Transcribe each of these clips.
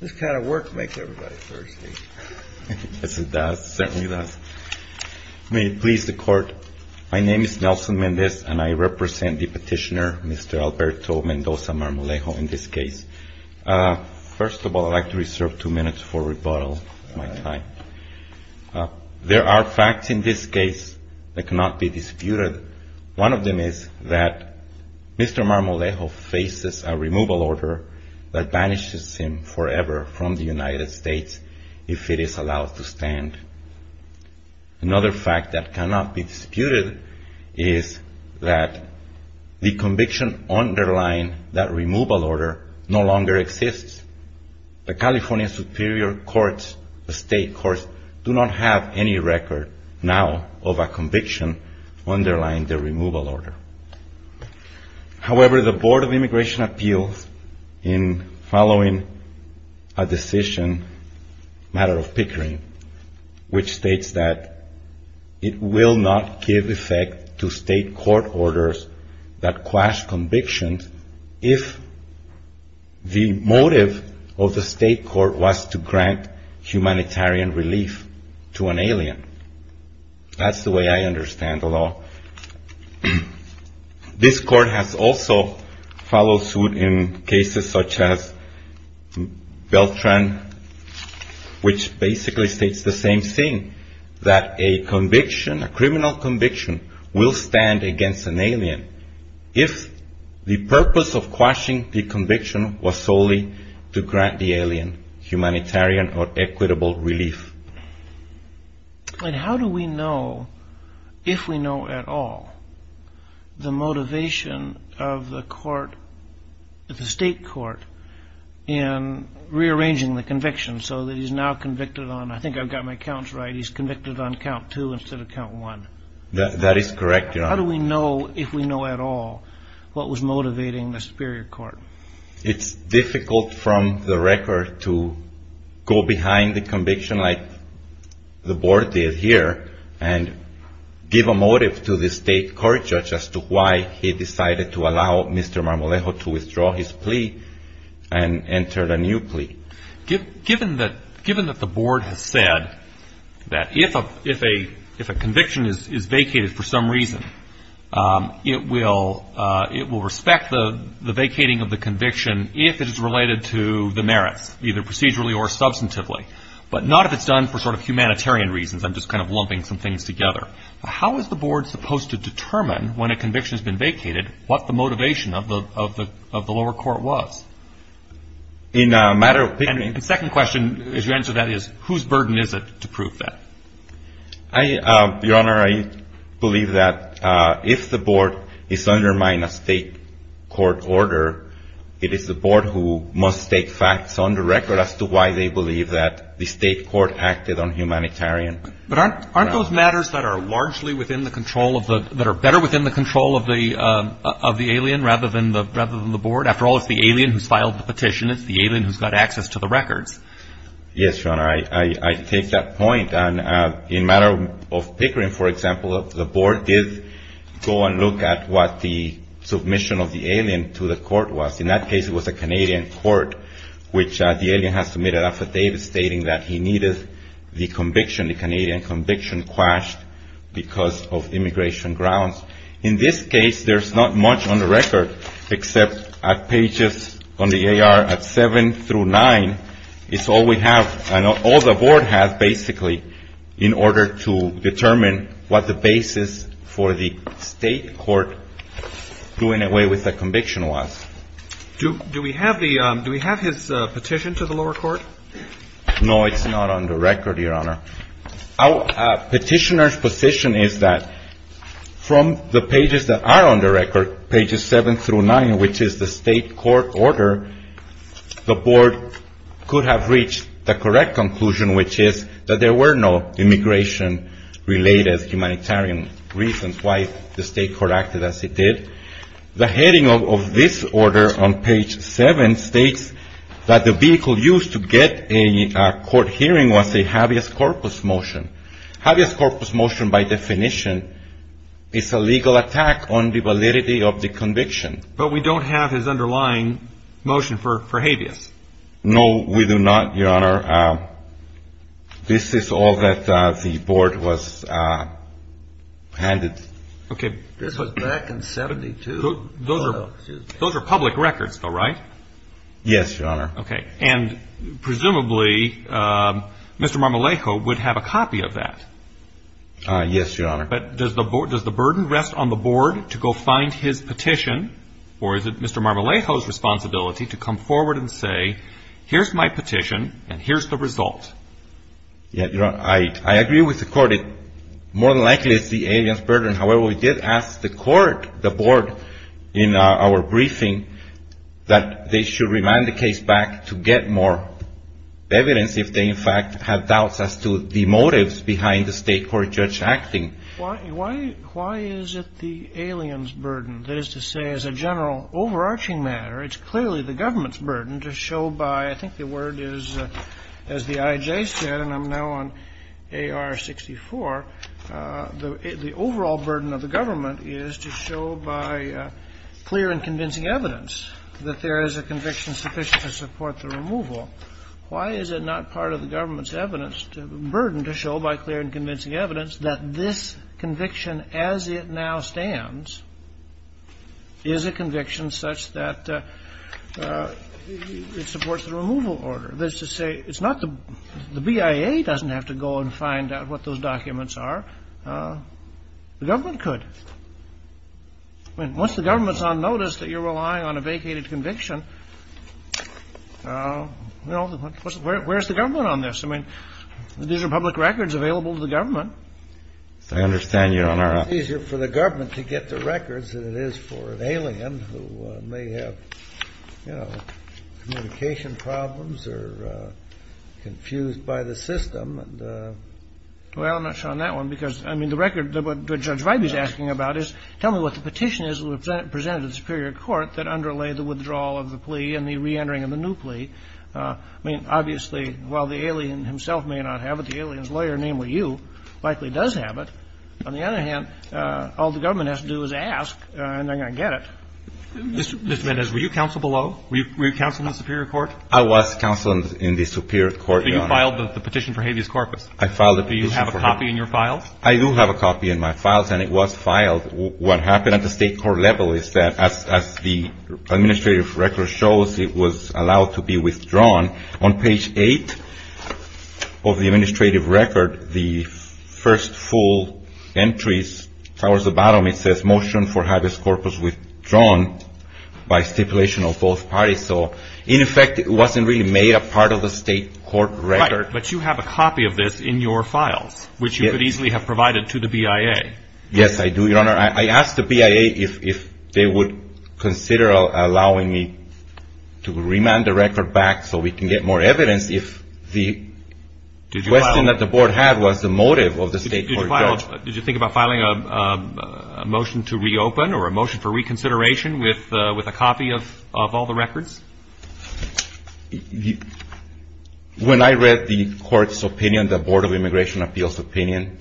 This kind of work makes everybody thirsty. Yes, it does. It certainly does. May it please the Court, my name is Nelson Mendez and I represent the petitioner, Mr. Alberto Mendoza Marmolejo, in this case. First of all, I'd like to reserve two minutes for rebuttal. There are facts in this case that cannot be disputed. One of them is that Mr. Marmolejo faces a removal order that banishes him forever from the United States if it is allowed to stand. Another fact that cannot be disputed is that the conviction underlying that removal order no longer exists. The California Superior State Courts do not have any record now of a conviction underlying the removal order. However, the Board of Immigration appeals in following a decision, a matter of pickering, which states that it will not give effect to state court orders that quash convictions if the motive of the state court was to grant humanitarian relief to an alien. That's the way I understand the law. This Court has also followed suit in cases such as Beltran, which basically states the same thing, that a conviction, a criminal conviction, will stand against an alien if the purpose of quashing the conviction was solely to grant the alien humanitarian or equitable relief. And how do we know, if we know at all, the motivation of the court, the state court, in rearranging the conviction so that he's now convicted on, I think I've got my counts right, he's convicted on count two instead of count one. That is correct, Your Honor. How do we know, if we know at all, what was motivating the Superior Court? It's difficult from the record to go behind the conviction like the Board did here and give a motive to the state court judge as to why he decided to allow Mr. Marmolejo to withdraw his plea and enter a new plea. Given that the Board has said that if a conviction is vacated for some reason, it will respect the vacating of the conviction if it is related to the merits, either procedurally or substantively, but not if it's done for sort of humanitarian reasons. I'm just kind of lumping some things together. How is the Board supposed to determine, when a conviction has been vacated, what the motivation of the lower court was? In a matter of opinion. And the second question, as you answer that, is whose burden is it to prove that? Your Honor, I believe that if the Board is undermining a state court order, it is the Board who must take facts on the record as to why they believe that the state court acted on humanitarian grounds. But aren't those matters that are largely within the control of the, that are better within the control of the alien rather than the Board? After all, it's the alien who's filed the petition. It's the alien who's got access to the records. Yes, Your Honor. I take that point. And in a matter of Pickering, for example, the Board did go and look at what the submission of the alien to the court was. In that case, it was a Canadian court, which the alien has submitted an affidavit stating that he needed the conviction, the Canadian conviction quashed because of immigration grounds. In this case, there's not much on the record except at pages on the AR at 7 through 9, it's all we have and all the Board has basically in order to determine what the basis for the state court doing away with the conviction was. Do we have the, do we have his petition to the lower court? No, it's not on the record, Your Honor. Our petitioner's position is that from the pages that are on the record, pages 7 through 9, which is the state court order, the Board could have reached the correct conclusion, which is that there were no immigration related humanitarian reasons why the state court acted as it did. The heading of this order on page 7 states that the vehicle used to get a court hearing was a habeas corpus motion. Habeas corpus motion by definition is a legal attack on the validity of the conviction. But we don't have his underlying motion for habeas. No, we do not, Your Honor. This is all that the Board was handed. Okay. This was back in 72. Those are public records though, right? Yes, Your Honor. Okay. And presumably Mr. Marmolejo would have a copy of that. Yes, Your Honor. But does the Board, does the burden rest on the Board to go find his petition or is it Mr. Marmolejo's responsibility to come forward and say, here's my petition and here's the result? Yes, Your Honor. I agree with the Court. It more than likely is the alien's burden. However, we did ask the Court, the Board, in our briefing that they should remand the case back to get more evidence if they, in fact, have doubts as to the motives behind the state court judge acting. Why is it the alien's burden? That is to say, as a general overarching matter, it's clearly the government's burden to show by, I think the word is, as the IJ said, and I'm now on AR-64, the overall burden of the government is to show by clear and convincing evidence that there is a conviction sufficient to support the removal. Why is it not part of the government's evidence, burden to show by clear and convincing evidence that this conviction as it now stands is a conviction such that it supports the removal order? That is to say, it's not the — the BIA doesn't have to go and find out what those documents are. The government could. I mean, once the government's on notice that you're relying on a vacated conviction, you know, where's the government on this? I mean, these are public records available to the government. I understand, Your Honor. It's easier for the government to get the records than it is for an alien who may have, you know, communication problems or confused by the system. Well, I'm not sure on that one because, I mean, the record that Judge Vibey is asking about is, tell me what the petition is that was presented to the superior court that underlay the withdrawal of the plea and the reentering of the new plea. I mean, obviously, while the alien himself may not have it, the alien's lawyer, namely you, likely does have it. On the other hand, all the government has to do is ask, and they're going to get it. Mr. Mendez, were you counseled below? Were you counseled in the superior court? I was counseled in the superior court, Your Honor. So you filed the petition for habeas corpus? I filed the petition for habeas corpus. Do you have a copy in your files? I do have a copy in my files, and it was filed. What happened at the State court level is that, as the administrative record shows, it was allowed to be withdrawn. On page 8 of the administrative record, the first full entries, towards the bottom, it says, motion for habeas corpus withdrawn by stipulation of both parties. So, in effect, it wasn't really made a part of the State court record. Right, but you have a copy of this in your files, which you could easily have provided to the BIA. Yes, I do, Your Honor. I asked the BIA if they would consider allowing me to remand the record back so we can get more evidence, if the question that the board had was the motive of the State court judge. Did you think about filing a motion to reopen or a motion for reconsideration with a copy of all the records? When I read the court's opinion, the Board of Immigration Appeals' opinion,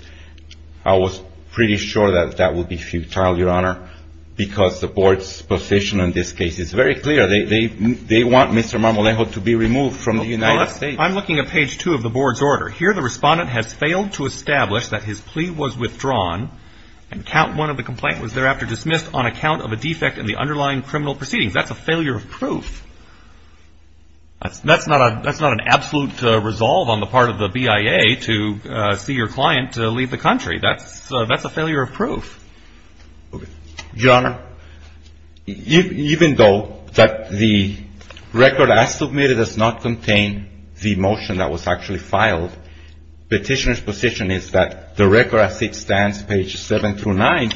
I was pretty sure that that would be futile, Your Honor, because the board's position in this case is very clear. They want Mr. Marmolejo to be removed from the United States. I'm looking at page 2 of the board's order. Here, the respondent has failed to establish that his plea was withdrawn, and count one of the complaints was thereafter dismissed on account of a defect in the underlying criminal proceedings. That's a failure of proof. That's not an absolute resolve on the part of the BIA to see your client leave the country. That's a failure of proof. Your Honor, even though the record as submitted does not contain the motion that was actually filed, petitioner's position is that the record as it stands, page 7 through 9,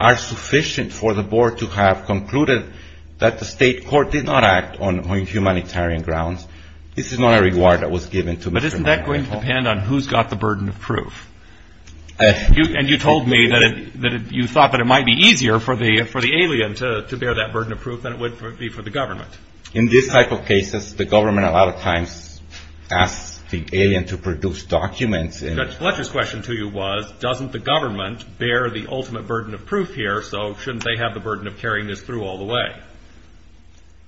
are sufficient for the board to have concluded that the State court did not act on humanitarian grounds. This is not a reward that was given to Mr. Marmolejo. But isn't that going to depend on who's got the burden of proof? And you told me that you thought that it might be easier for the alien to bear that burden of proof than it would be for the government. In this type of cases, the government a lot of times asks the alien to produce documents. Judge Fletcher's question to you was, doesn't the government bear the ultimate burden of proof here, so shouldn't they have the burden of carrying this through all the way?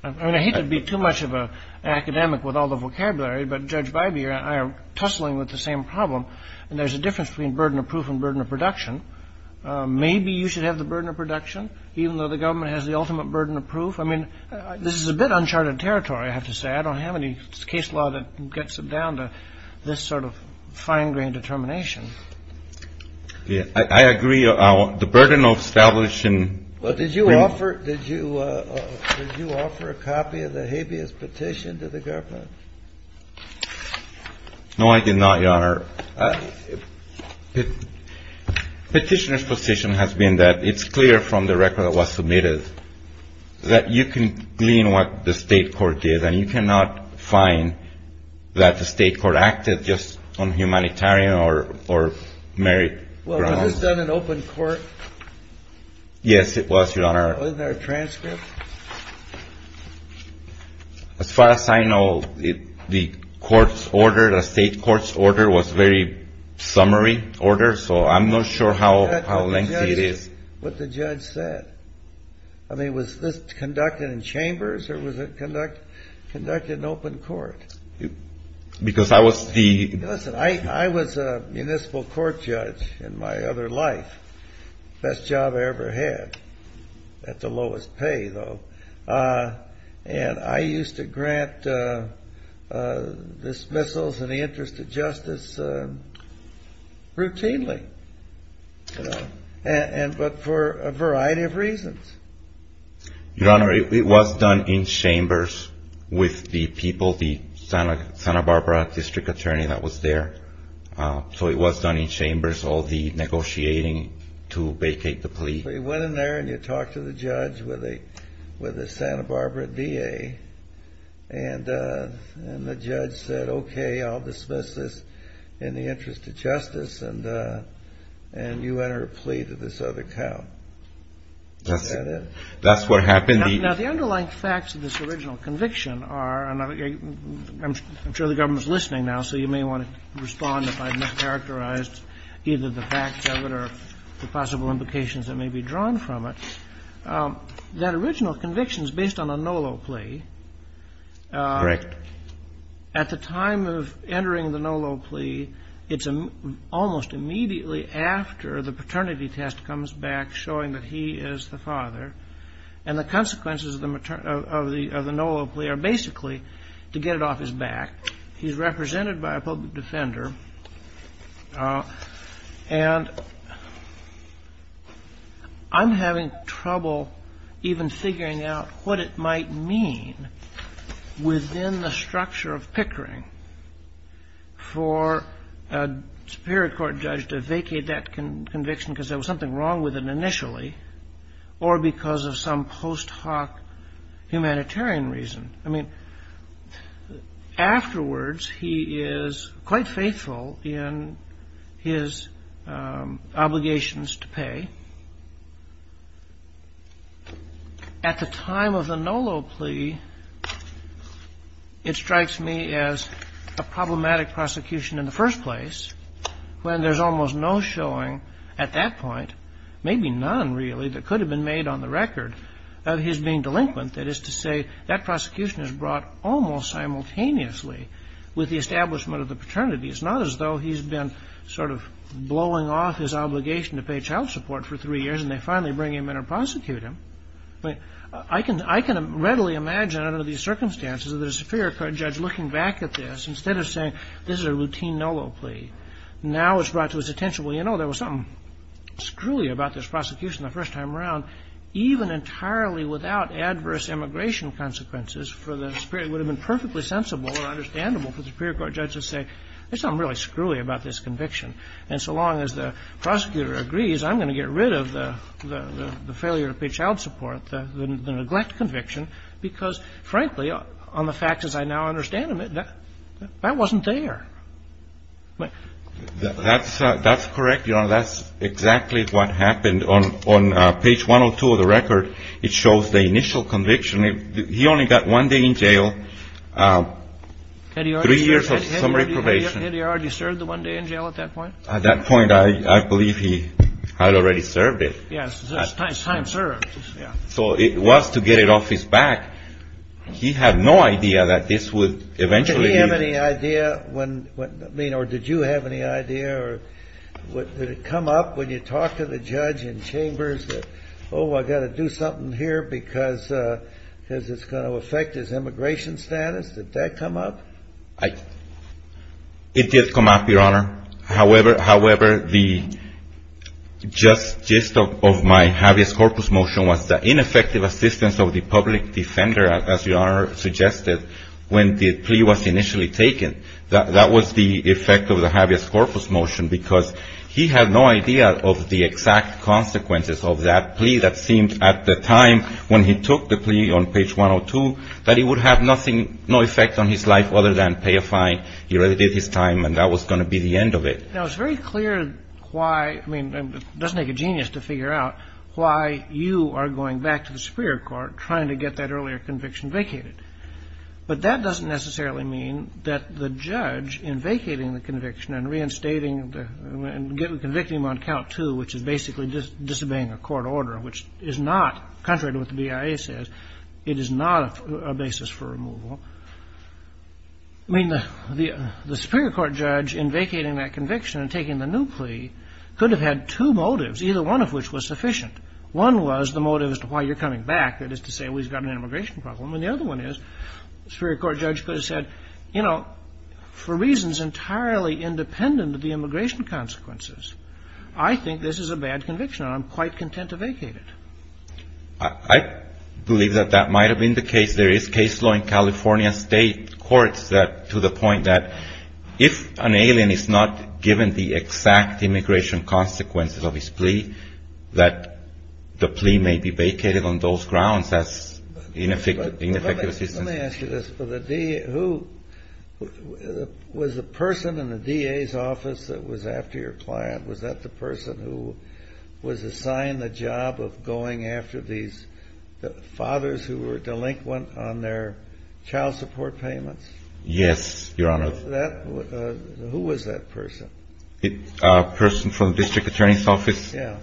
I mean, I hate to be too much of an academic with all the vocabulary, but, Judge Bybee, I am tussling with the same problem. And there's a difference between burden of proof and burden of production. Maybe you should have the burden of production, even though the government has the ultimate burden of proof. I mean, this is a bit uncharted territory, I have to say. I don't have any case law that gets it down to this sort of fine-grained determination. I agree. The burden of establishing. Did you offer a copy of the habeas petition to the government? No, I did not, Your Honor. Petitioner's position has been that it's clear from the record that was submitted that you can glean what the state court did, and you cannot find that the state court acted just on humanitarian or merit grounds. Well, was this done in open court? Yes, it was, Your Honor. Wasn't there a transcript? As far as I know, the court's order, the state court's order was a very summary order, so I'm not sure how lengthy it is. That's what the judge said. I mean, was this conducted in chambers, or was it conducted in open court? Because I was the... And I used to grant dismissals in the interest of justice routinely, you know, but for a variety of reasons. Your Honor, it was done in chambers with the people, the Santa Barbara district attorney that was there. So it was done in chambers, all the negotiating to vacate the plea. But you went in there and you talked to the judge with the Santa Barbara DA, and the judge said, okay, I'll dismiss this in the interest of justice, and you enter a plea to this other count. That's what happened. Now, the underlying facts of this original conviction are, and I'm sure the government's listening now, so you may want to respond if I've mischaracterized either the facts of it or the possible implications that may be drawn from it. That original conviction is based on a NOLO plea. Correct. At the time of entering the NOLO plea, it's almost immediately after the paternity test comes back showing that he is the father. And the consequences of the NOLO plea are basically to get it off his back. He's represented by a public defender. And I'm having trouble even figuring out what it might mean within the structure of Pickering for a superior court judge to vacate that conviction because there was something wrong with it initially or because of some post hoc humanitarian reason. I mean, afterwards, he is quite faithful in his obligations to pay. At the time of the NOLO plea, it strikes me as a problematic prosecution in the first place, when there's almost no showing at that point, maybe none really, that could have been made on the record of his being delinquent. That is to say, that prosecution is brought almost simultaneously with the establishment of the paternity. It's not as though he's been sort of blowing off his obligation to pay child support for three years, and they finally bring him in or prosecute him. I can readily imagine under these circumstances that a superior court judge looking back at this, instead of saying this is a routine NOLO plea, now it's brought to his attention, well, you know, there was something screwy about this prosecution the first time around. Even entirely without adverse immigration consequences for the superior, it would have been perfectly sensible or understandable for the superior court judge to say there's something really screwy about this conviction. And so long as the prosecutor agrees, I'm going to get rid of the failure to pay child support, the neglect conviction, because, frankly, on the facts as I now understand them, that wasn't there. That's correct, Your Honor. That's exactly what happened. On page 102 of the record, it shows the initial conviction. He only got one day in jail, three years of summary probation. Had he already served the one day in jail at that point? At that point, I believe he had already served it. Yes. Time served. So it was to get it off his back. He had no idea that this would eventually be. Did you have any idea or did you have any idea or did it come up when you talked to the judge in chambers that, oh, I've got to do something here because it's going to affect his immigration status? Did that come up? It did come up, Your Honor. However, the gist of my habeas corpus motion was the ineffective assistance of the public defender, as Your Honor suggested, when the plea was initially taken. That was the effect of the habeas corpus motion because he had no idea of the exact consequences of that plea. That seemed at the time when he took the plea on page 102 that it would have nothing, no effect on his life other than pay a fine. He already did his time, and that was going to be the end of it. Now, it's very clear why, I mean, it doesn't take a genius to figure out why you are going back to the Superior Court trying to get that earlier conviction vacated. But that doesn't necessarily mean that the judge, in vacating the conviction and reinstating and convicting him on count two, which is basically disobeying a court order, which is not, contrary to what the BIA says, it is not a basis for removal. I mean, the Superior Court judge, in vacating that conviction and taking the new plea, could have had two motives, either one of which was sufficient. One was the motive as to why you're coming back, that is to say we've got an immigration problem. And the other one is the Superior Court judge could have said, you know, for reasons entirely independent of the immigration consequences, I think this is a bad conviction and I'm quite content to vacate it. I believe that that might have been the case. There is case law in California State courts that, to the point that if an alien is not given the exact immigration consequences of his plea, that the plea may be vacated on those grounds as ineffective assistance. Let me ask you this. Was the person in the DA's office that was after your client, was that the person who was assigned the job of going after these fathers who were delinquent on their child support payments? Yes, Your Honor. Who was that person? A person from the district attorney's office. Yeah.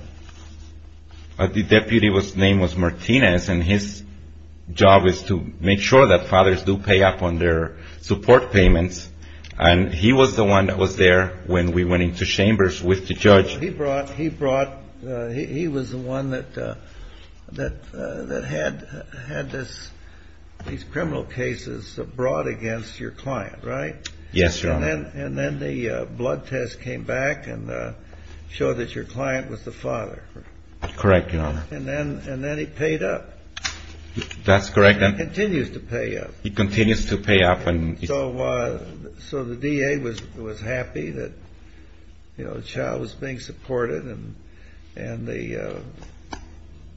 The deputy's name was Martinez, and his job is to make sure that fathers do pay up on their support payments. And he was the one that was there when we went into chambers with the judge. He was the one that had these criminal cases brought against your client, right? Yes, Your Honor. And then the blood test came back and showed that your client was the father. Correct, Your Honor. And then he paid up. That's correct. And he continues to pay up. He continues to pay up. So the DA was happy that a child was being supported, and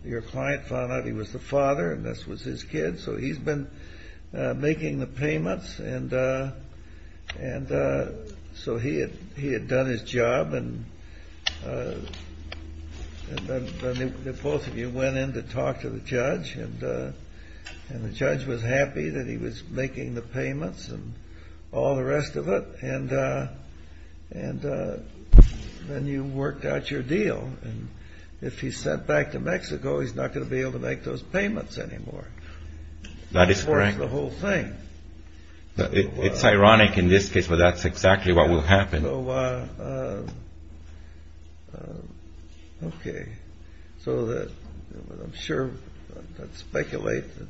your client found out he was the father and this was his kid, so he's been making the payments. And so he had done his job, and both of you went in to talk to the judge, and the judge was happy that he was making the payments and all the rest of it, and then you worked out your deal. And if he's sent back to Mexico, he's not going to be able to make those payments anymore. That is correct. That's the whole thing. It's ironic in this case, but that's exactly what will happen. Okay. So I'm sure I'd speculate that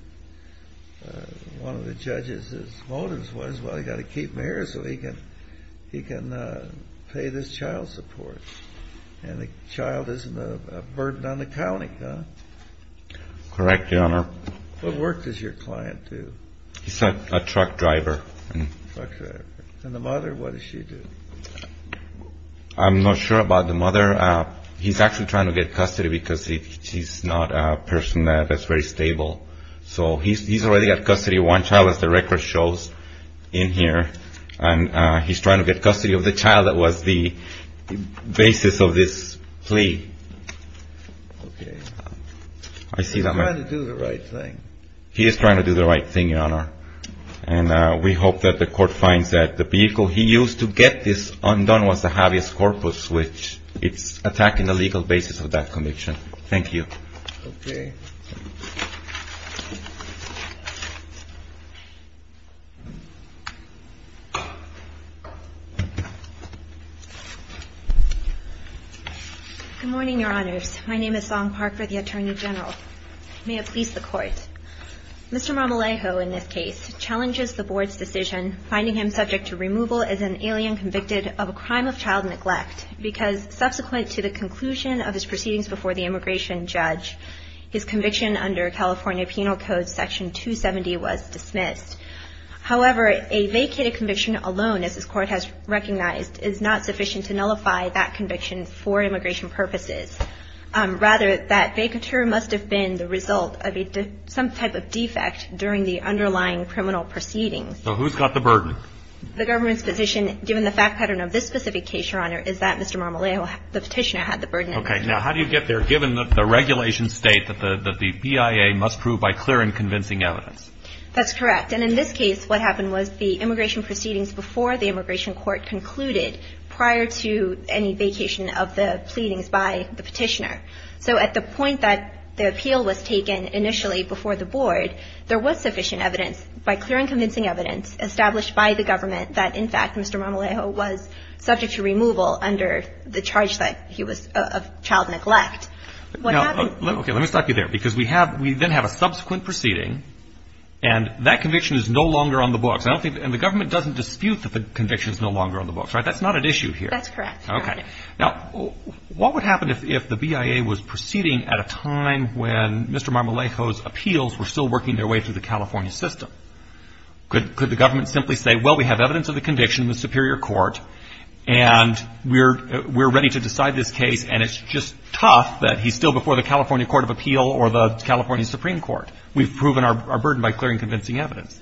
one of the judges' motives was, well, you've got to keep him here so he can pay this child support, and the child isn't a burden on the county, huh? Correct, Your Honor. What work does your client do? He's a truck driver. A truck driver. And the mother, what does she do? I'm not sure about the mother. He's actually trying to get custody because she's not a person that's very stable. So he's already got custody of one child, as the record shows in here, and he's trying to get custody of the child that was the basis of this plea. Okay. He's trying to do the right thing. He is trying to do the right thing, Your Honor. And we hope that the court finds that the vehicle he used to get this undone was the habeas corpus, which it's attacking the legal basis of that conviction. Thank you. Okay. Good morning, Your Honors. My name is Song Park for the Attorney General. May it please the Court. Mr. Marmolejo, in this case, challenges the Board's decision, finding him subject to removal as an alien convicted of a crime of child neglect because subsequent to the conclusion of his proceedings before the immigration judge, his conviction under California Penal Code Section 270 was dismissed. However, a vacated conviction alone, as this Court has recognized, is not sufficient to nullify that conviction for immigration purposes. Rather, that vacatur must have been the result of some type of defect during the underlying criminal proceedings. So who's got the burden? The government's position, given the fact pattern of this specific case, Your Honor, is that Mr. Marmolejo, the petitioner, had the burden. Okay. Now, how do you get there, given that the regulations state that the BIA must prove by clear and convincing evidence? That's correct. And in this case, what happened was the immigration proceedings before the immigration court concluded, prior to any vacation of the pleadings by the petitioner. So at the point that the appeal was taken initially before the Board, there was sufficient evidence, by clear and convincing evidence, established by the government that, in fact, Mr. Marmolejo was subject to removal under the charge that he was of child neglect. Now, let me stop you there, because we then have a subsequent proceeding, and that conviction is no longer on the books. And the government doesn't dispute that the conviction is no longer on the books, right? That's not at issue here. That's correct, Your Honor. Okay. Now, what would happen if the BIA was proceeding at a time when Mr. Marmolejo's appeals were still working their way through the California system? Could the government simply say, well, we have evidence of the conviction in the Superior Court, and we're ready to decide this case, and it's just tough that he's still before the California Court of Appeal or the California Supreme Court? We've proven our burden by clear and convincing evidence.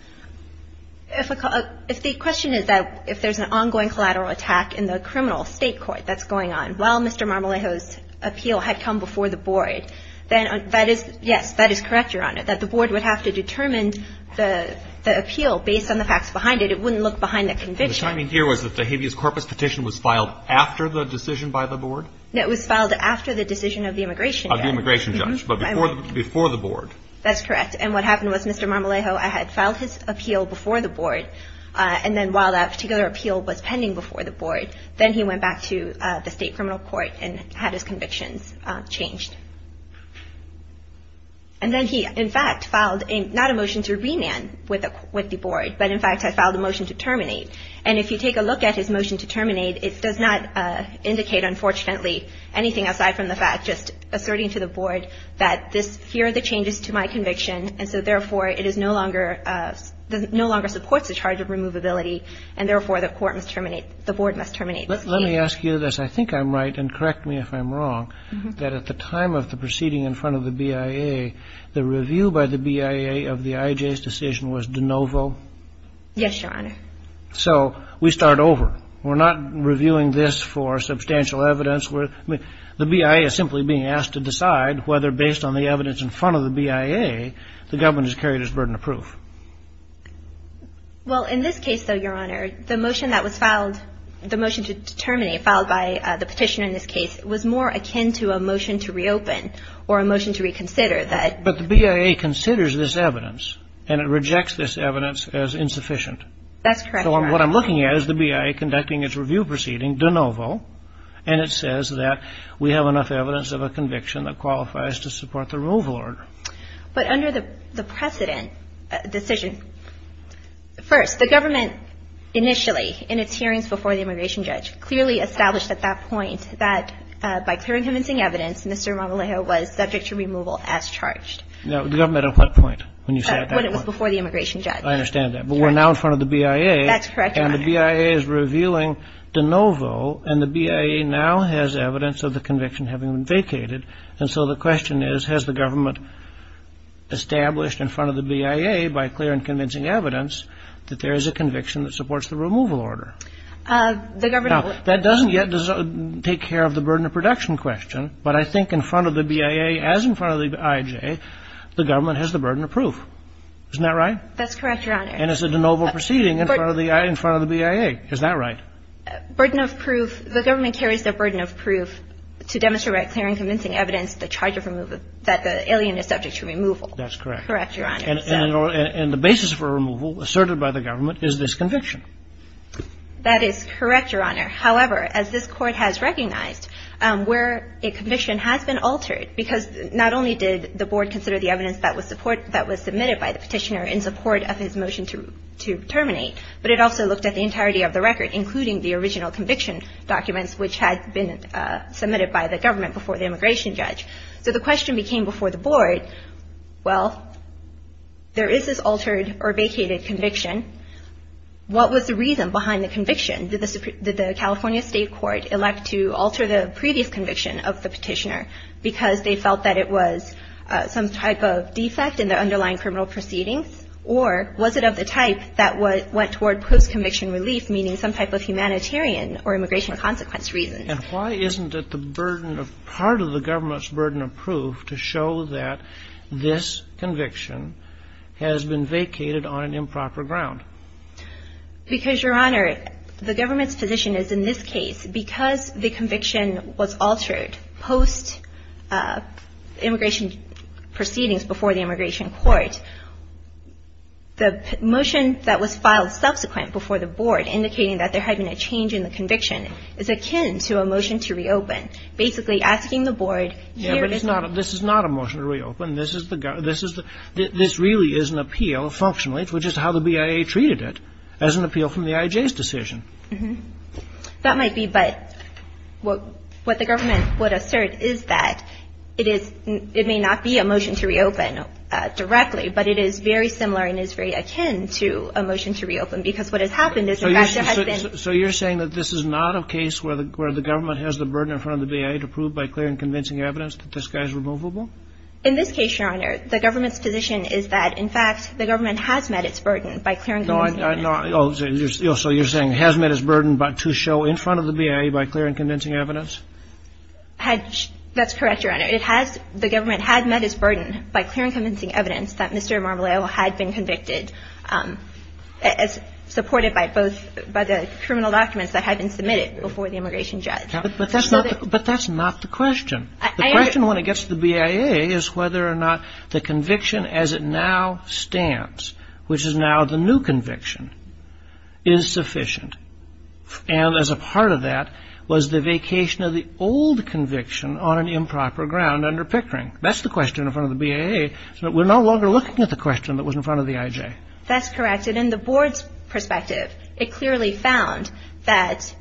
If the question is that if there's an ongoing collateral attack in the criminal state court that's going on while Mr. Marmolejo's appeal had come before the board, then that is yes, that is correct, Your Honor, that the board would have to determine the appeal based on the facts behind it. It wouldn't look behind the conviction. The timing here was that the habeas corpus petition was filed after the decision by the board? No, it was filed after the decision of the immigration judge. Of the immigration judge, but before the board. That's correct. And what happened was Mr. Marmolejo, I had filed his appeal, before the board, and then while that particular appeal was pending before the board, then he went back to the state criminal court and had his convictions changed. And then he, in fact, filed not a motion to remand with the board, but in fact had filed a motion to terminate. And if you take a look at his motion to terminate, it does not indicate, unfortunately, anything aside from the fact, just asserting to the board that here are the changes to my conviction, and so therefore, it is no longer, no longer supports the charge of removability, and therefore, the court must terminate, the board must terminate this case. Let me ask you this. I think I'm right, and correct me if I'm wrong, that at the time of the proceeding in front of the BIA, the review by the BIA of the IJ's decision was de novo? Yes, Your Honor. So we start over. We're not reviewing this for substantial evidence. The BIA is simply being asked to decide whether based on the evidence in front of the BIA, the government has carried its burden of proof. Well, in this case, though, Your Honor, the motion that was filed, the motion to terminate filed by the petitioner in this case was more akin to a motion to reopen or a motion to reconsider that. But the BIA considers this evidence, and it rejects this evidence as insufficient. That's correct, Your Honor. So what I'm looking at is the BIA conducting its review proceeding de novo, and it says that we have enough evidence of a conviction that qualifies to support the removal order. But under the precedent decision, first, the government initially, in its hearings before the immigration judge, clearly established at that point that by clearing convincing evidence, Mr. Marmolejo was subject to removal as charged. Now, the government at what point when you say that? When it was before the immigration judge. I understand that. But we're now in front of the BIA. That's correct, Your Honor. And the BIA is revealing de novo, and the BIA now has evidence of the conviction having been vacated. And so the question is, has the government established in front of the BIA, by clear and convincing evidence, that there is a conviction that supports the removal order? The government was. Now, that doesn't yet take care of the burden of production question. But I think in front of the BIA, as in front of the IJ, the government has the burden of proof. Isn't that right? That's correct, Your Honor. And it's a de novo proceeding in front of the BIA. Isn't that right? Burden of proof. The government carries the burden of proof to demonstrate by clear and convincing evidence the charge of removal, that the alien is subject to removal. That's correct. Correct, Your Honor. And the basis for removal asserted by the government is this conviction. That is correct, Your Honor. However, as this Court has recognized, where a conviction has been altered, because not only did the Board consider the evidence that was submitted by the petitioner in support of his motion to terminate, but it also looked at the entirety of the documents which had been submitted by the government before the immigration judge. So the question became before the Board, well, there is this altered or vacated conviction. What was the reason behind the conviction? Did the California State Court elect to alter the previous conviction of the petitioner because they felt that it was some type of defect in the underlying criminal proceedings? Or was it of the type that went toward post-conviction relief, meaning some type of And why isn't it the burden of part of the government's burden of proof to show that this conviction has been vacated on an improper ground? Because, Your Honor, the government's position is in this case, because the conviction was altered post-immigration proceedings before the immigration court, the motion that was filed subsequent before the Board indicating that there had been a change in the conviction is akin to a motion to reopen, basically asking the Board, Yeah, but this is not a motion to reopen. This really is an appeal functionally, which is how the BIA treated it, as an appeal from the IJ's decision. That might be, but what the government would assert is that it may not be a motion to reopen directly, but it is very similar and is very akin to a motion to reopen, because what has happened is, in fact, there has been So you're saying that this is not a case where the government has the burden in front of the BIA to prove by clear and convincing evidence that this guy is removable? In this case, Your Honor, the government's position is that, in fact, the government has met its burden by clear and convincing evidence. So you're saying it has met its burden to show in front of the BIA by clear and convincing evidence? That's correct, Your Honor. It has, the government had met its burden by clear and convincing evidence that Mr. But that's not the question. The question when it gets to the BIA is whether or not the conviction as it now stands, which is now the new conviction, is sufficient. And as a part of that was the vacation of the old conviction on an improper ground under Pickering. That's the question in front of the BIA, so that we're no longer looking at the question that was in front of the IJ. That's correct. And in the board's perspective, it clearly found that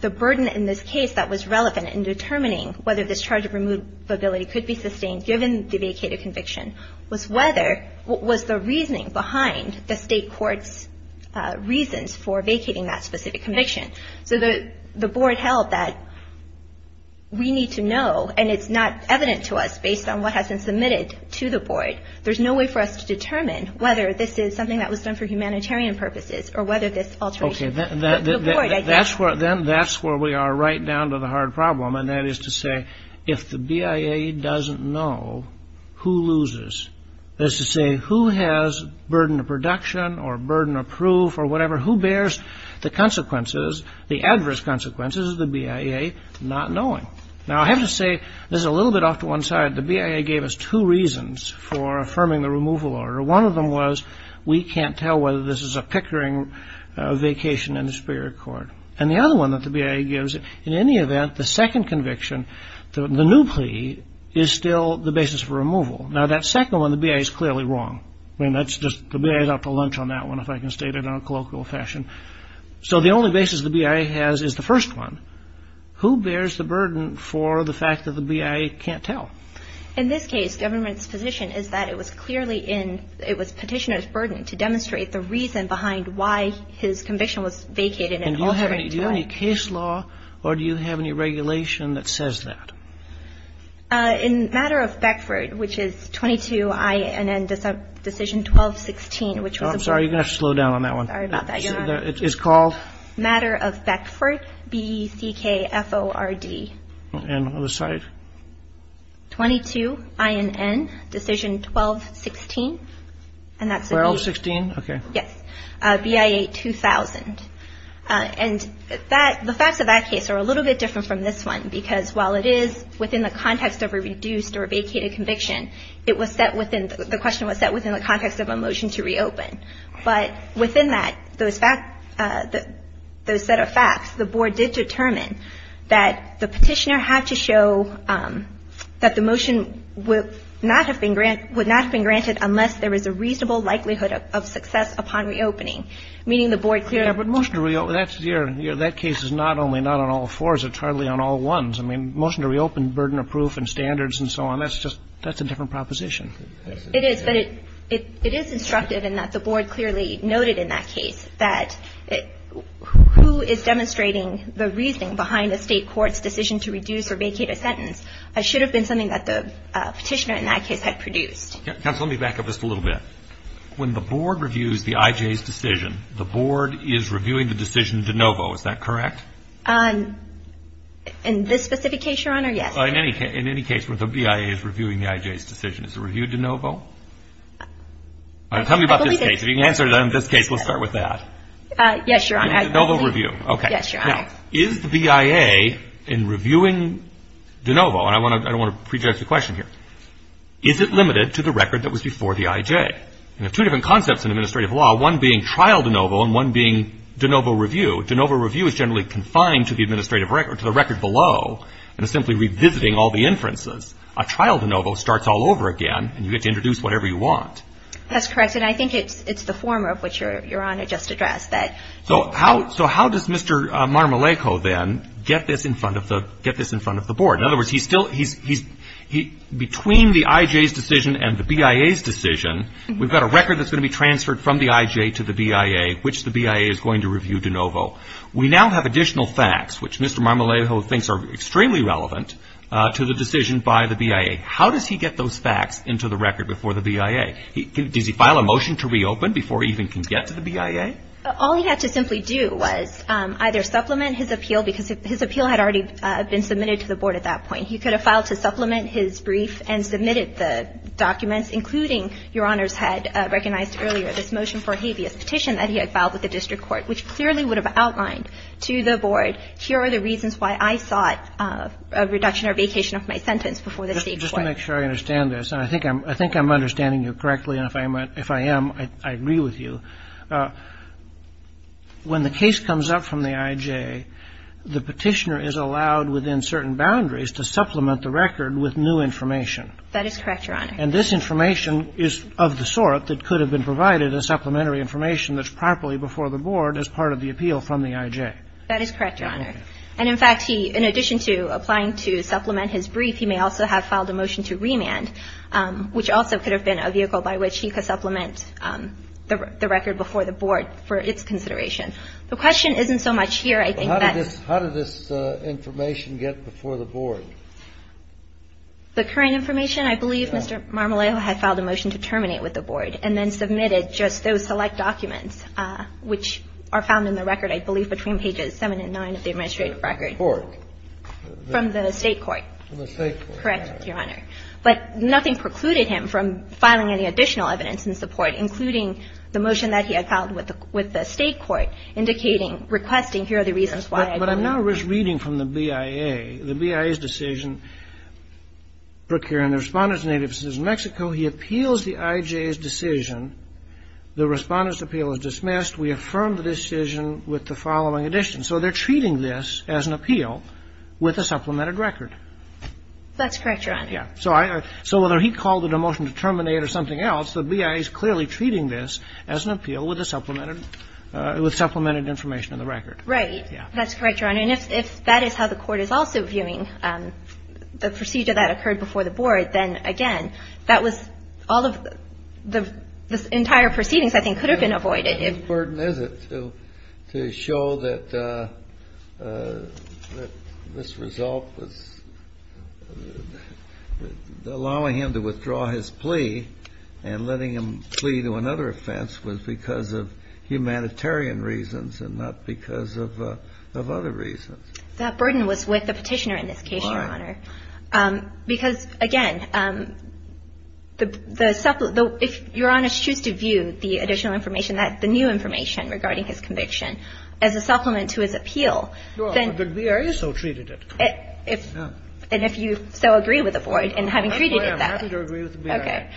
the burden in this case that was relevant in determining whether this charge of removability could be sustained given the vacated conviction was whether, was the reasoning behind the state court's reasons for vacating that specific conviction. So the board held that we need to know, and it's not evident to us based on what has been submitted to the board, there's no way for us to determine whether this is something that was done for humanitarian purposes or whether this alteration of the board I guess. Okay. Then that's where we are right down to the hard problem. And that is to say, if the BIA doesn't know, who loses? That is to say, who has burden of production or burden of proof or whatever? Who bears the consequences, the adverse consequences of the BIA not knowing? Now, I have to say, this is a little bit off to one side. The BIA gave us two reasons for affirming the removal order. One of them was we can't tell whether this is a pickering vacation in the Superior Court. And the other one that the BIA gives, in any event, the second conviction, the new plea, is still the basis for removal. Now, that second one, the BIA is clearly wrong. I mean, that's just, the BIA is after lunch on that one, if I can state it in a colloquial fashion. So the only basis the BIA has is the first one. Who bears the burden for the fact that the BIA can't tell? In this case, government's position is that it was clearly in, it was Petitioner's burden to demonstrate the reason behind why his conviction was vacated and altered. And do you have any case law or do you have any regulation that says that? In Matter of Beckford, which is 22INN Decision 1216, which was a brief case. I'm sorry. You're going to have to slow down on that one. Sorry about that, Your Honor. It's called? Matter of Beckford, B-E-C-K-F-O-R-D. And the other side? 22INN Decision 1216. 1216? Okay. Yes. BIA 2000. And the facts of that case are a little bit different from this one because while it is within the context of a reduced or vacated conviction, it was set within, the question was set within the context of a motion to reopen. But within that, those facts, those set of facts, the Board did determine that the Petitioner had to show that the motion would not have been granted unless there was a reasonable likelihood of success upon reopening, meaning the Board clearly Yeah, but motion to reopen, that's your, that case is not only not on all fours, it's hardly on all ones. I mean, motion to reopen, burden of proof and standards and so on, that's just, that's a different proposition. It is, but it is instructive in that the Board clearly noted in that case that who is demonstrating the reasoning behind a state court's decision to reduce or vacate a sentence should have been something that the Petitioner in that case had produced. Counsel, let me back up just a little bit. When the Board reviews the IJ's decision, the Board is reviewing the decision de novo, is that correct? In this specific case, Your Honor, yes. In any case, when the BIA is reviewing the IJ's decision, is it reviewed de novo? Tell me about this case. If you can answer it on this case, we'll start with that. Yes, Your Honor. De novo review, okay. Yes, Your Honor. Now, is the BIA in reviewing de novo, and I want to prejudge the question here, is it limited to the record that was before the IJ? And there are two different concepts in administrative law, one being trial de novo and one being de novo review. De novo review is generally confined to the administrative record, to the record below, and is simply revisiting all the inferences. A trial de novo starts all over again, and you get to introduce whatever you want. That's correct, and I think it's the former of which Your Honor just addressed. So how does Mr. Marmoleko, then, get this in front of the Board? In other words, he's still, between the IJ's decision and the BIA's decision, we've got a record that's going to be transferred from the IJ to the BIA, which the BIA is going to review de novo. We now have additional facts, which Mr. Marmoleko thinks are extremely relevant to the decision by the BIA. How does he get those facts into the record before the BIA? Does he file a motion to reopen before he even can get to the BIA? All he had to simply do was either supplement his appeal, because his appeal had already been submitted to the Board at that point. He could have filed to supplement his brief and submitted the documents, including, Your Honor's had recognized earlier, this motion for a habeas petition that he had filed with the district court, which clearly would have outlined to the Board, here are the reasons why I sought a reduction or vacation of my sentence before the state court. Just to make sure I understand this, and I think I'm understanding you correctly, and if I am, I agree with you, when the case comes up from the IJ, the Petitioner is allowed within certain boundaries to supplement the record with new information. That is correct, Your Honor. And this information is of the sort that could have been provided as supplementary information that's properly before the Board as part of the appeal from the IJ. That is correct, Your Honor. And, in fact, he, in addition to applying to supplement his brief, he may also have filed a motion to remand, which also could have been a vehicle by which he could supplement the record before the Board for its consideration. The question isn't so much here. I think that's the question. How did this information get before the Board? The current information? I believe Mr. Marmoleo had filed a motion to terminate with the Board and then submitted just those select documents, which are found in the record, I believe, between pages 7 and 9 of the administrative record. From the court. From the state court. From the state court. Correct, Your Honor. But nothing precluded him from filing any additional evidence in support, including the motion that he had filed with the state court, indicating, requesting, here are the reasons why I believe. But I'm now reading from the BIA. The BIA's decision, Brook here, and the Respondent's native is in Mexico. He appeals the IJ's decision. The Respondent's appeal is dismissed. We affirm the decision with the following addition. So they're treating this as an appeal with a supplemented record. That's correct, Your Honor. Yeah. So whether he called it a motion to terminate or something else, the BIA is clearly treating this as an appeal with a supplemented, with supplemented information in the record. Right. Yeah. That's correct, Your Honor. And if that is how the court is also viewing the procedure that occurred before the Board, then, again, that was all of the entire proceedings, I think, could have been avoided. What burden is it to show that this result was allowing him to withdraw his plea and letting him plea to another offense was because of humanitarian reasons and not because of other reasons? That burden was with the Petitioner in this case, Your Honor. Why? Because, again, the supplement, if Your Honor chooses to view the additional information, the new information regarding his conviction as a supplement to his appeal, then the BIA so treated it. And if you so agree with the Board in having treated it that way. I'm happy to agree with the BIA. Okay.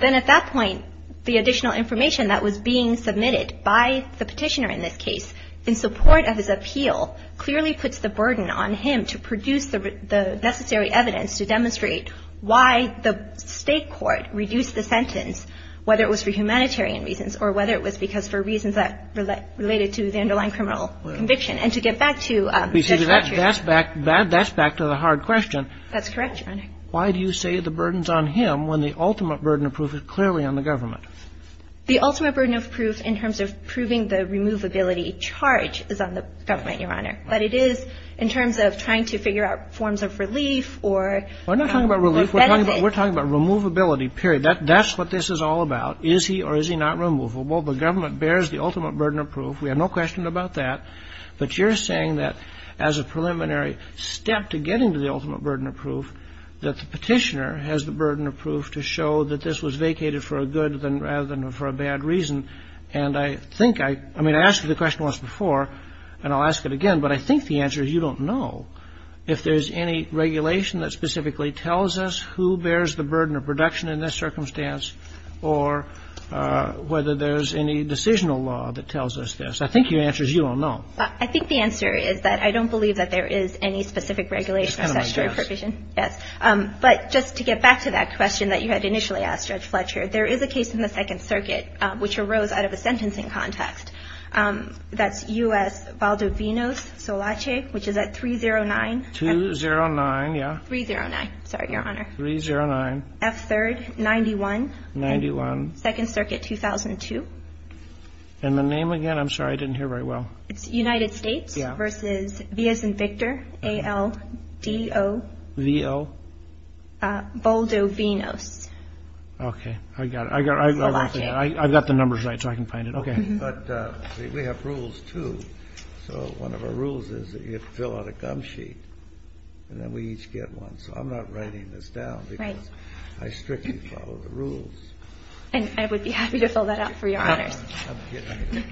Then at that point, the additional information that was being submitted by the Petitioner in this case in support of his appeal clearly puts the burden on him to produce the necessary evidence to demonstrate why the State court reduced the sentence, whether it was for humanitarian reasons or whether it was because for reasons that related to the underlying criminal conviction. And to get back to Judge Fletcher's question. That's back to the hard question. That's correct, Your Honor. Why do you say the burden is on him when the ultimate burden of proof is clearly on the government? The ultimate burden of proof in terms of proving the removability charge is on the government, Your Honor. But it is in terms of trying to figure out forms of relief or benefits. We're not talking about relief. We're talking about removability, period. That's what this is all about. Is he or is he not removable? The government bears the ultimate burden of proof. We have no question about that. But you're saying that as a preliminary step to getting to the ultimate burden of proof, that the Petitioner has the burden of proof to show that this was vacated for a good rather than for a bad reason. And I think I asked you the question once before, and I'll ask it again, but I think the answer is you don't know. If there's any regulation that specifically tells us who bears the burden of production in this circumstance or whether there's any decisional law that tells us this. I think your answer is you don't know. I think the answer is that I don't believe that there is any specific regulation or statutory provision. Yes. But just to get back to that question that you had initially asked, Judge Fletcher, there is a case in the Second Circuit which arose out of a sentencing context. That's U.S. Valdovinos Solace, which is at 309. 209, yeah. 309. Sorry, Your Honor. 309. F3rd, 91. 91. Second Circuit, 2002. And the name again? I'm sorry. I didn't hear very well. It's United States versus Villas and Victor, A-L-D-O. V-O. Valdovinos. Okay. I got it. I've got the numbers right, so I can find it. Okay. But we have rules, too. So one of our rules is that you fill out a gum sheet, and then we each get one. So I'm not writing this down, because I strictly follow the rules. And I would be happy to fill that out for Your Honors.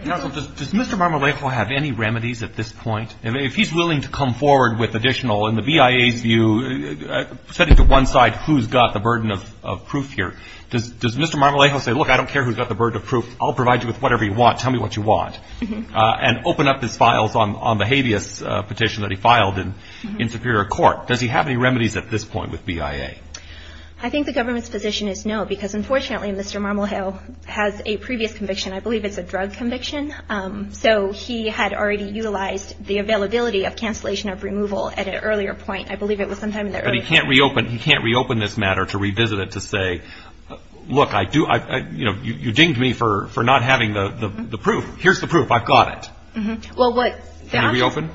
Counsel, does Mr. Marmolejo have any remedies at this point? If he's willing to come forward with additional, in the BIA's view, setting to one side who's got the burden of proof here, does Mr. Marmolejo say, look, I don't care who's got the burden of proof. I'll provide you with whatever you want. Tell me what you want. And open up his files on the habeas petition that he filed in Superior Court. Does he have any remedies at this point with BIA? I think the government's position is no, because unfortunately, Mr. Marmolejo has a previous conviction. I believe it's a drug conviction. So he had already utilized the availability of cancellation of removal at an earlier point. I believe it was sometime in the early 20s. But he can't reopen this matter to revisit it to say, look, you dinged me for not having the proof. Here's the proof. I've got it. Can he reopen?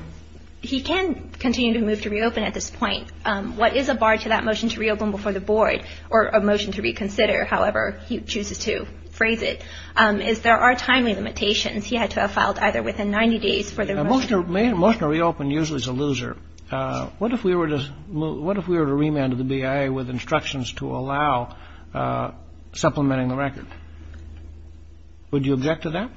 He can continue to move to reopen at this point. What is a bar to that motion to reopen before the board, or a motion to reconsider, however he chooses to phrase it, is there are timely limitations. He had to have filed either within 90 days for the removal. A motion to reopen usually is a loser. What if we were to remand the BIA with instructions to allow supplementing the record? Would you object to that?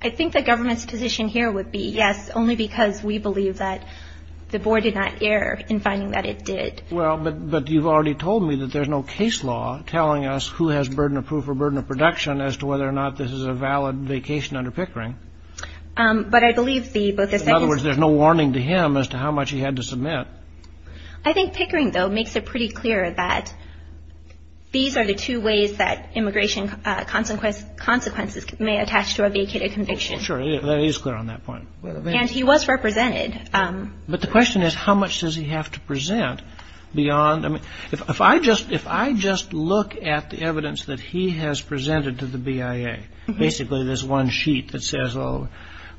I think the government's position here would be yes, only because we believe that the board did not err in finding that it did. Well, but you've already told me that there's no case law telling us who has burden of proof or burden of production as to whether or not this is a valid vacation under Pickering. But I believe the both of those. In other words, there's no warning to him as to how much he had to submit. I think Pickering, though, makes it pretty clear that these are the two ways that immigration consequences may attach to a vacated conviction. Sure. That is clear on that point. And he was represented. But the question is how much does he have to present beyond? I mean, if I just look at the evidence that he has presented to the BIA, basically this one sheet that says, oh,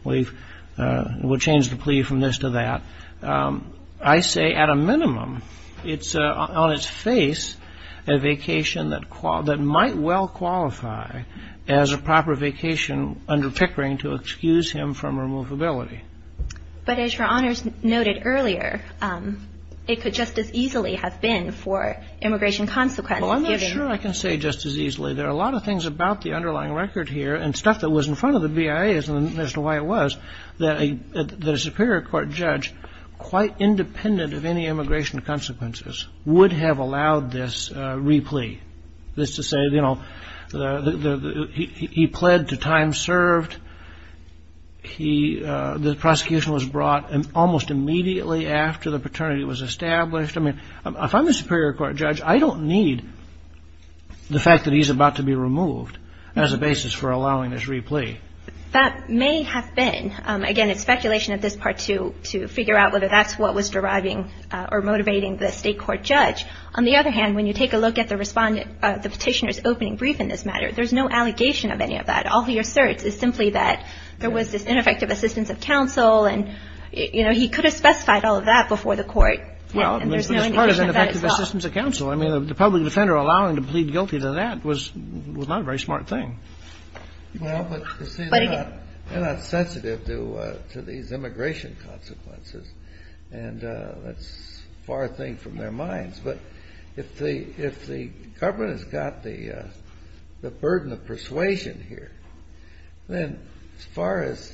we'll change the plea from this to that, I say at a minimum it's on its face a vacation that might well qualify as a proper vacation under Pickering to excuse him from removability. But as Your Honors noted earlier, it could just as easily have been for immigration consequences. Well, I'm not sure I can say just as easily. There are a lot of things about the underlying record here and stuff that was in front of the BIA as to why it was that a superior court judge, quite independent of any immigration consequences, would have allowed this replea. That's to say, you know, he pled to time served. The prosecution was brought almost immediately after the paternity was established. I mean, if I'm a superior court judge, I don't need the fact that he's about to be removed as a basis for allowing this replea. That may have been. Again, it's speculation at this part to figure out whether that's what was deriving or motivating the state court judge. On the other hand, when you take a look at the petitioner's opening brief in this matter, there's no allegation of any of that. All he asserts is simply that there was this ineffective assistance of counsel, and, you know, he could have specified all of that before the court. And there's no indication of that at all. Well, this part is ineffective assistance of counsel. I mean, the public defender allowing him to plead guilty to that was not a very smart thing. Well, but you see, they're not sensitive to these immigration consequences, and that's a far thing from their minds. But if the government has got the burden of persuasion here, then as far as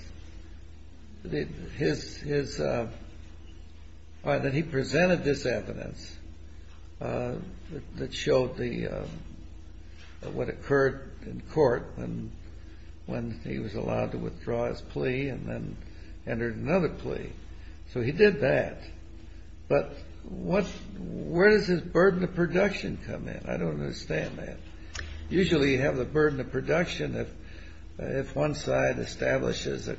his – that he presented this evidence that showed what occurred in court when he was allowed to withdraw his plea and then entered another plea. So he did that. But where does this burden of production come in? I don't understand that. Usually you have the burden of production if one side establishes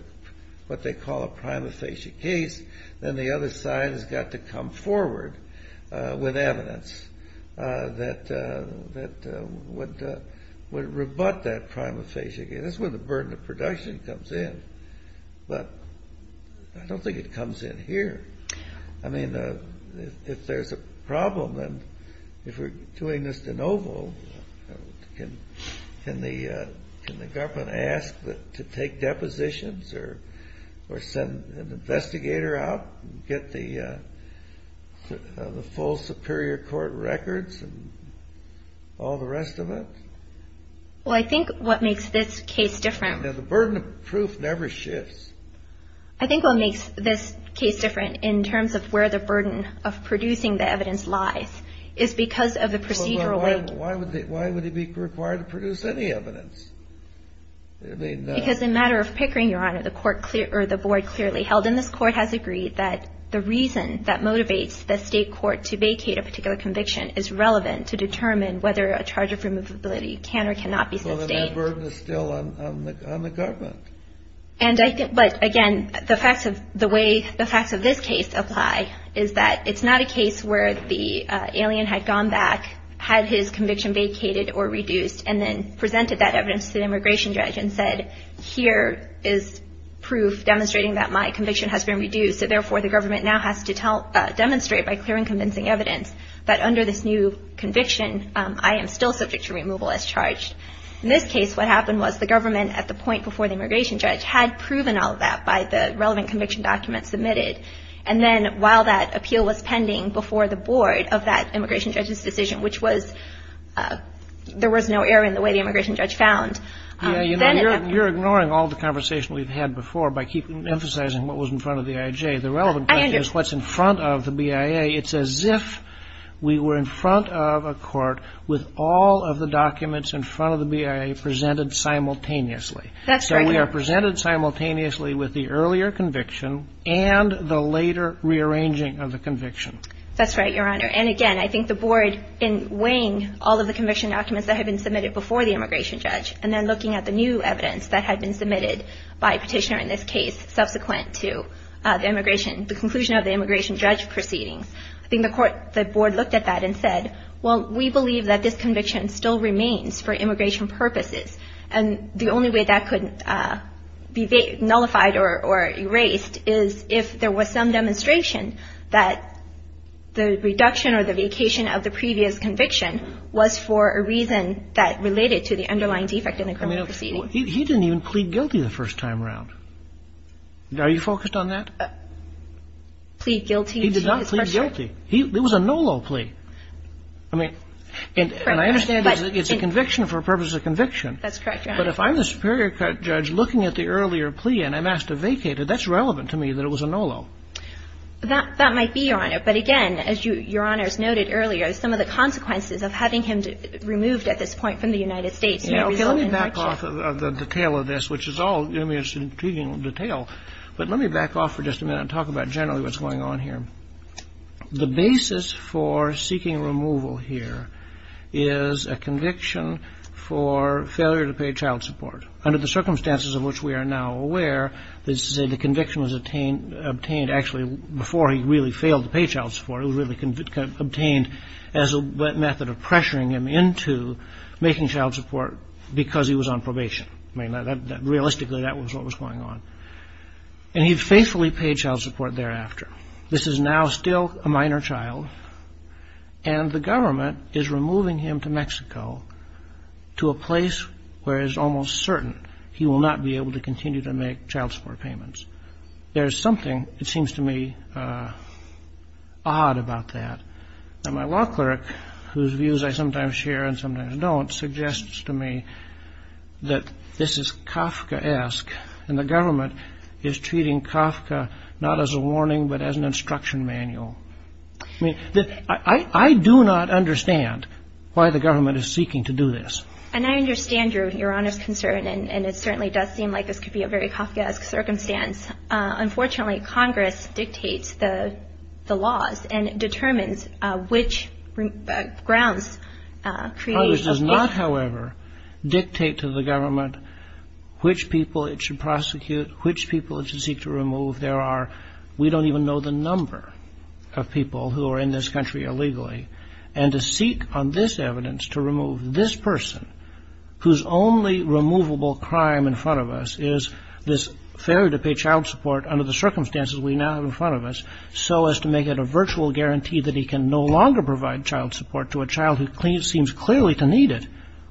what they call a prima facie case, then the other side has got to come forward with evidence that would rebut that prima facie case. That's where the burden of production comes in. But I don't think it comes in here. I mean, if there's a problem, then if we're doing this de novo, can the government ask to take depositions or send an investigator out and get the full superior court records and all the rest of it? Well, I think what makes this case different – The burden of proof never shifts. I think what makes this case different in terms of where the burden of producing the evidence lies is because of the procedural way – Why would he be required to produce any evidence? Because in a matter of Pickering, Your Honor, the board clearly held, and this court has agreed that the reason that motivates the state court to vacate a particular conviction is relevant to determine whether a charge of removability can or cannot be sustained. So then that burden is still on the government. But again, the facts of this case apply, is that it's not a case where the alien had gone back, had his conviction vacated or reduced, and then presented that evidence to the immigration judge and said, here is proof demonstrating that my conviction has been reduced, so therefore the government now has to demonstrate by clearing convincing evidence that under this new conviction, I am still subject to removal as charged. In this case, what happened was the government at the point before the immigration judge had proven all of that by the relevant conviction document submitted. And then while that appeal was pending before the board of that immigration judge's decision, which was – there was no error in the way the immigration judge found – Yeah, you know, you're ignoring all the conversation we've had before by emphasizing what was in front of the IJ. The relevant question is what's in front of the BIA. It's as if we were in front of a court with all of the documents in front of the BIA presented simultaneously. That's right, Your Honor. So we are presented simultaneously with the earlier conviction and the later rearranging of the conviction. That's right, Your Honor. And again, I think the board in weighing all of the conviction documents that had been submitted before the immigration judge and then looking at the new evidence that had been submitted by a petitioner in this case subsequent to the immigration – the conclusion of the immigration judge proceedings, I think the court – the board looked at that and said, well, we believe that this conviction still remains for immigration purposes. And the only way that could be nullified or erased is if there was some demonstration that the reduction or the vacation of the previous conviction was for a reason that related to the underlying defect in the criminal proceeding. He didn't even plead guilty the first time around. Are you focused on that? Plead guilty to his pressure? He did not plead guilty. It was a NOLO plea. I mean, and I understand it's a conviction for a purpose of conviction. That's correct, Your Honor. But if I'm the superior judge looking at the earlier plea and I'm asked to vacate it, that's relevant to me that it was a NOLO. That might be, Your Honor. But again, as Your Honor has noted earlier, some of the consequences of having him removed at this point from the United States Okay, let me back off of the detail of this, which is all intriguing detail. But let me back off for just a minute and talk about generally what's going on here. The basis for seeking removal here is a conviction for failure to pay child support. Under the circumstances of which we are now aware, the conviction was obtained actually before he really failed to pay child support. It was really obtained as a method of pressuring him into making child support because he was on probation. Realistically, that was what was going on. And he faithfully paid child support thereafter. This is now still a minor child, and the government is removing him to Mexico to a place where it is almost certain he will not be able to continue to make child support payments. There is something, it seems to me, odd about that. Now, my law clerk, whose views I sometimes share and sometimes don't, suggests to me that this is Kafkaesque, and the government is treating Kafka not as a warning but as an instruction manual. I mean, I do not understand why the government is seeking to do this. And I understand, Your Honor's concern, and it certainly does seem like this could be a very Kafkaesque circumstance. Unfortunately, Congress dictates the laws and determines which grounds create. Congress does not, however, dictate to the government which people it should prosecute, which people it should seek to remove. We don't even know the number of people who are in this country illegally. And to seek on this evidence to remove this person, whose only removable crime in front of us is this failure to pay child support under the circumstances we now have in front of us, so as to make it a virtual guarantee that he can no longer provide child support to a child who seems clearly to need it.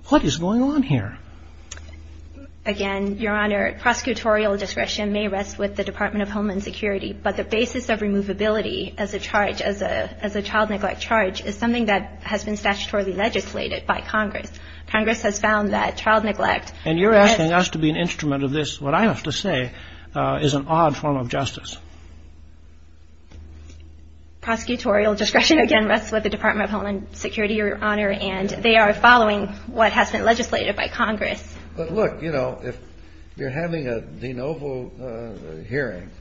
What is going on here? Again, Your Honor, prosecutorial discretion may rest with the Department of Homeland Security, but the basis of removability as a charge, as a child neglect charge, is something that has been statutorily legislated by Congress. Congress has found that child neglect is an odd form of justice. Prosecutorial discretion, again, rests with the Department of Homeland Security, Your Honor, and they are following what has been legislated by Congress. But look, you know, if you're having a de novo hearing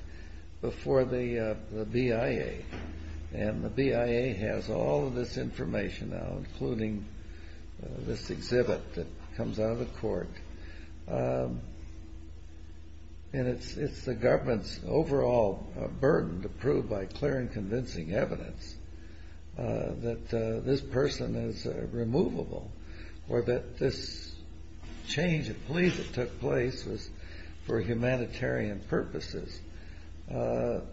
before the BIA, and the BIA has all of this information now, including this exhibit that comes out of the court, and it's the government's overall burden to prove by clear and convincing evidence that this person is removable, or that this change of police that took place was for humanitarian purposes, the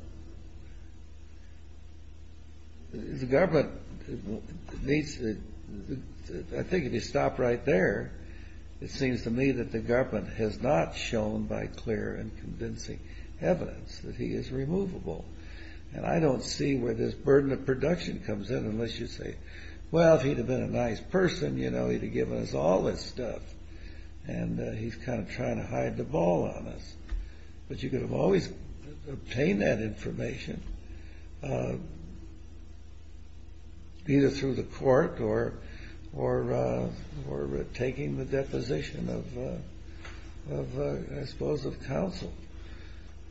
government needs to, I think if you stop right there, it seems to me that the government has not shown by clear and convincing evidence that he is removable. And I don't see where this burden of production comes in unless you say, well, if he'd have been a nice person, you know, he'd have given us all this stuff, and he's kind of trying to hide the ball on us. But you could have always obtained that information either through the court or taking the deposition of, I suppose, of counsel.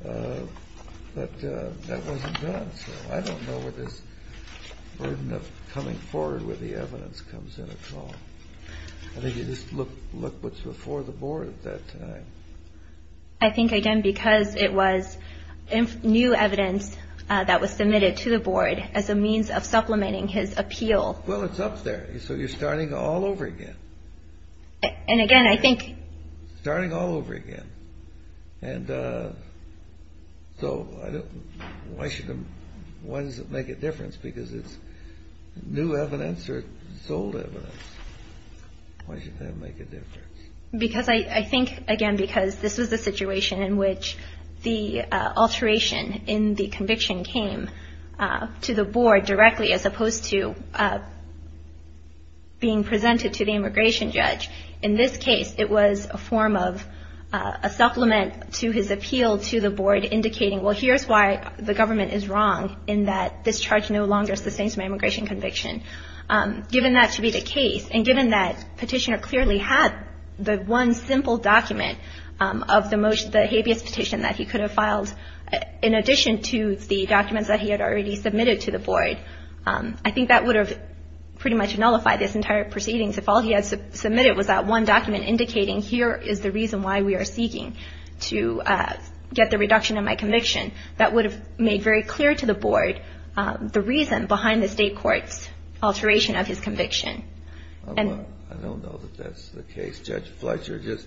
But that wasn't done, so I don't know where this burden of coming forward with the evidence comes in at all. I think you just look what's before the board at that time. I think, again, because it was new evidence that was submitted to the board as a means of supplementing his appeal. Well, it's up there. So you're starting all over again. And, again, I think... So why does it make a difference? Because it's new evidence or sold evidence? Why should that make a difference? Because I think, again, because this was a situation in which the alteration in the conviction came to the board directly as opposed to being presented to the immigration judge. In this case, it was a form of a supplement to his appeal to the board indicating, well, here's why the government is wrong in that this charge no longer sustains my immigration conviction. Given that to be the case and given that Petitioner clearly had the one simple document of the habeas petition that he could have filed in addition to the documents that he had already submitted to the board, I think that would have pretty much nullified this entire proceedings if all he had submitted was that one document indicating, here is the reason why we are seeking to get the reduction of my conviction. That would have made very clear to the board the reason behind the state court's alteration of his conviction. I don't know that that's the case. Judge Fletcher just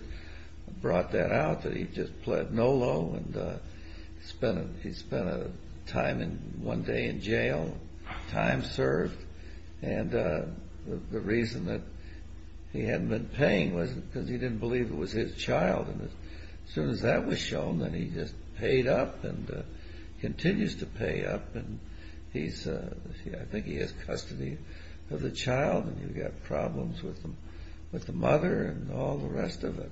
brought that out, that he just pled no low and he spent one day in jail, time served. The reason that he hadn't been paying was because he didn't believe it was his child. As soon as that was shown, then he just paid up and continues to pay up. I think he has custody of the child and you've got problems with the mother and all the rest of it.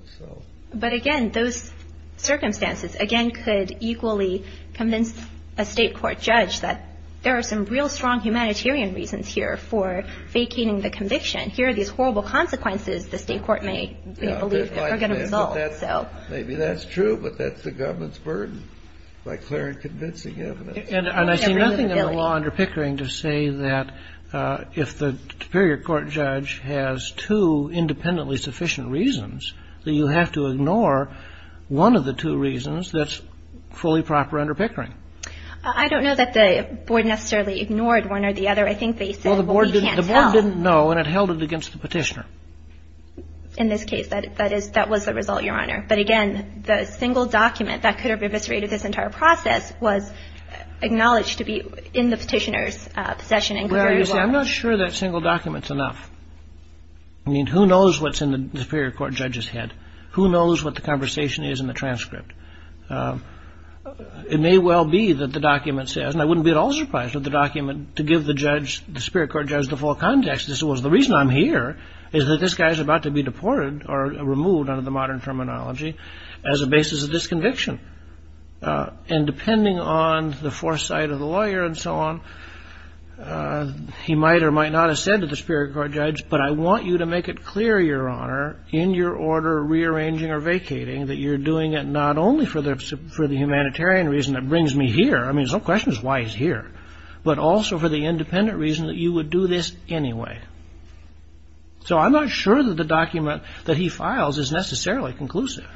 But again, those circumstances again could equally convince a state court judge that there are some real strong humanitarian reasons here for vacating the conviction. Here are these horrible consequences the state court may believe are going to result. Maybe that's true, but that's the government's burden by clear and convincing evidence. And I see nothing in the law under Pickering to say that if the superior court judge has two independently sufficient reasons, that you have to ignore one of the two reasons that's fully proper under Pickering. I don't know that the board necessarily ignored one or the other. I think they said, well, we can't tell. Well, the board didn't know and it held it against the petitioner. In this case, that was the result, Your Honor. But again, the single document that could have eviscerated this entire process was acknowledged to be in the petitioner's possession and could very well. I'm not sure that single document's enough. I mean, who knows what's in the superior court judge's head? Who knows what the conversation is in the transcript? It may well be that the document says, and I wouldn't be at all surprised if the document, to give the judge, the superior court judge, the full context, the reason I'm here is that this guy's about to be deported or removed under the modern terminology as a basis of disconviction. And depending on the foresight of the lawyer and so on, he might or might not have said to the superior court judge, but I want you to make it clear, Your Honor, in your order rearranging or vacating that you're doing it not only for the humanitarian reason that brings me here, I mean, there's no question as to why he's here, but also for the independent reason that you would do this anyway. So I'm not sure that the document that he files is necessarily conclusive.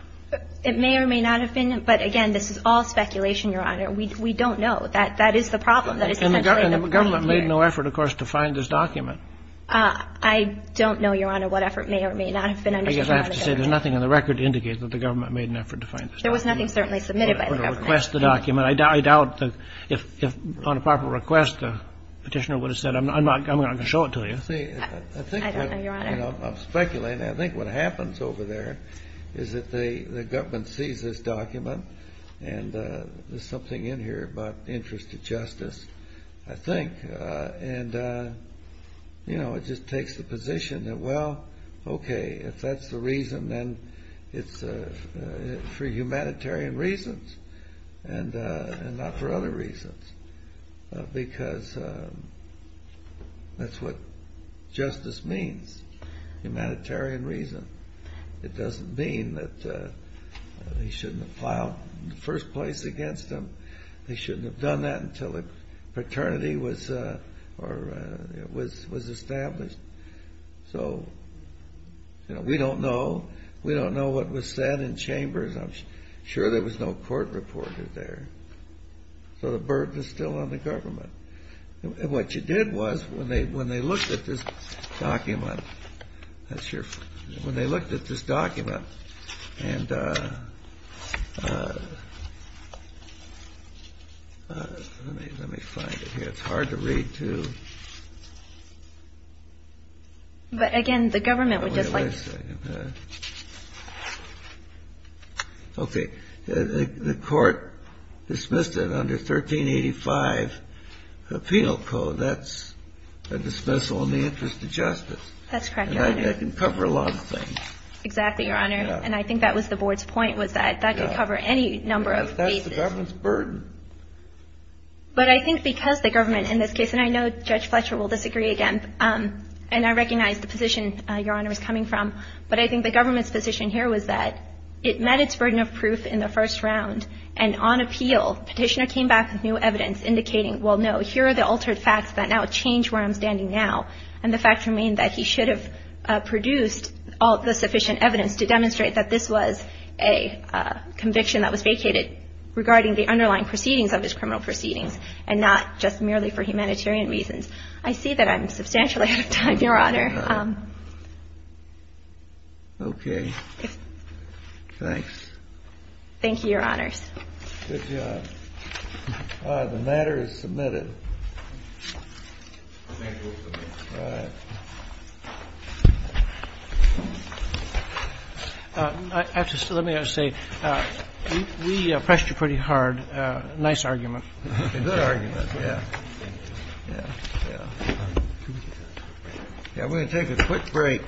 It may or may not have been, but again, this is all speculation, Your Honor. We don't know. That is the problem. And the government made no effort, of course, to find this document. I don't know, Your Honor, what effort may or may not have been undertaken. I guess I have to say there's nothing on the record to indicate that the government made an effort to find this document. There was nothing certainly submitted by the government. I'm going to request the document. I doubt if on a proper request the Petitioner would have said, I'm not going to show it to you. I don't know, Your Honor. I'm speculating. I think what happens over there is that the government sees this document, and there's something in here about interest to justice, I think. And, you know, it just takes the position that, well, okay, if that's the reason, then it's for humanitarian reasons and not for other reasons, because that's what justice means, humanitarian reason. It doesn't mean that they shouldn't have filed in the first place against him. They shouldn't have done that until the paternity was established. So, you know, we don't know. We don't know what was said in chambers. I'm sure there was no court reported there. So the burden is still on the government. And what you did was when they looked at this document, that's your ---- when they looked at this document, and let me find it here. It's hard to read, too. But, again, the government would just like ---- Wait a second. Okay. The court dismissed it under 1385 penal code. That's a dismissal in the interest of justice. That's correct, Your Honor. And that can cover a lot of things. Exactly, Your Honor. And I think that was the Board's point was that that could cover any number of cases. That's the government's burden. But I think because the government in this case, and I know Judge Fletcher will disagree again, and I recognize the position Your Honor is coming from, but I think the government's position here was that it met its burden of proof in the first round. And on appeal, Petitioner came back with new evidence indicating, well, no, here are the altered facts that now change where I'm standing now. And the facts remain that he should have produced all the sufficient evidence to demonstrate that this was a conviction that was vacated regarding the underlying proceedings of his criminal proceedings and not just merely for humanitarian reasons. I see that I'm substantially out of time, Your Honor. Okay. Thanks. Thank you, Your Honors. Good job. The matter is submitted. The matter is submitted. All right. Let me just say, we pressed you pretty hard. Nice argument. It's a good argument, yeah. Yeah, we're going to take a quick break.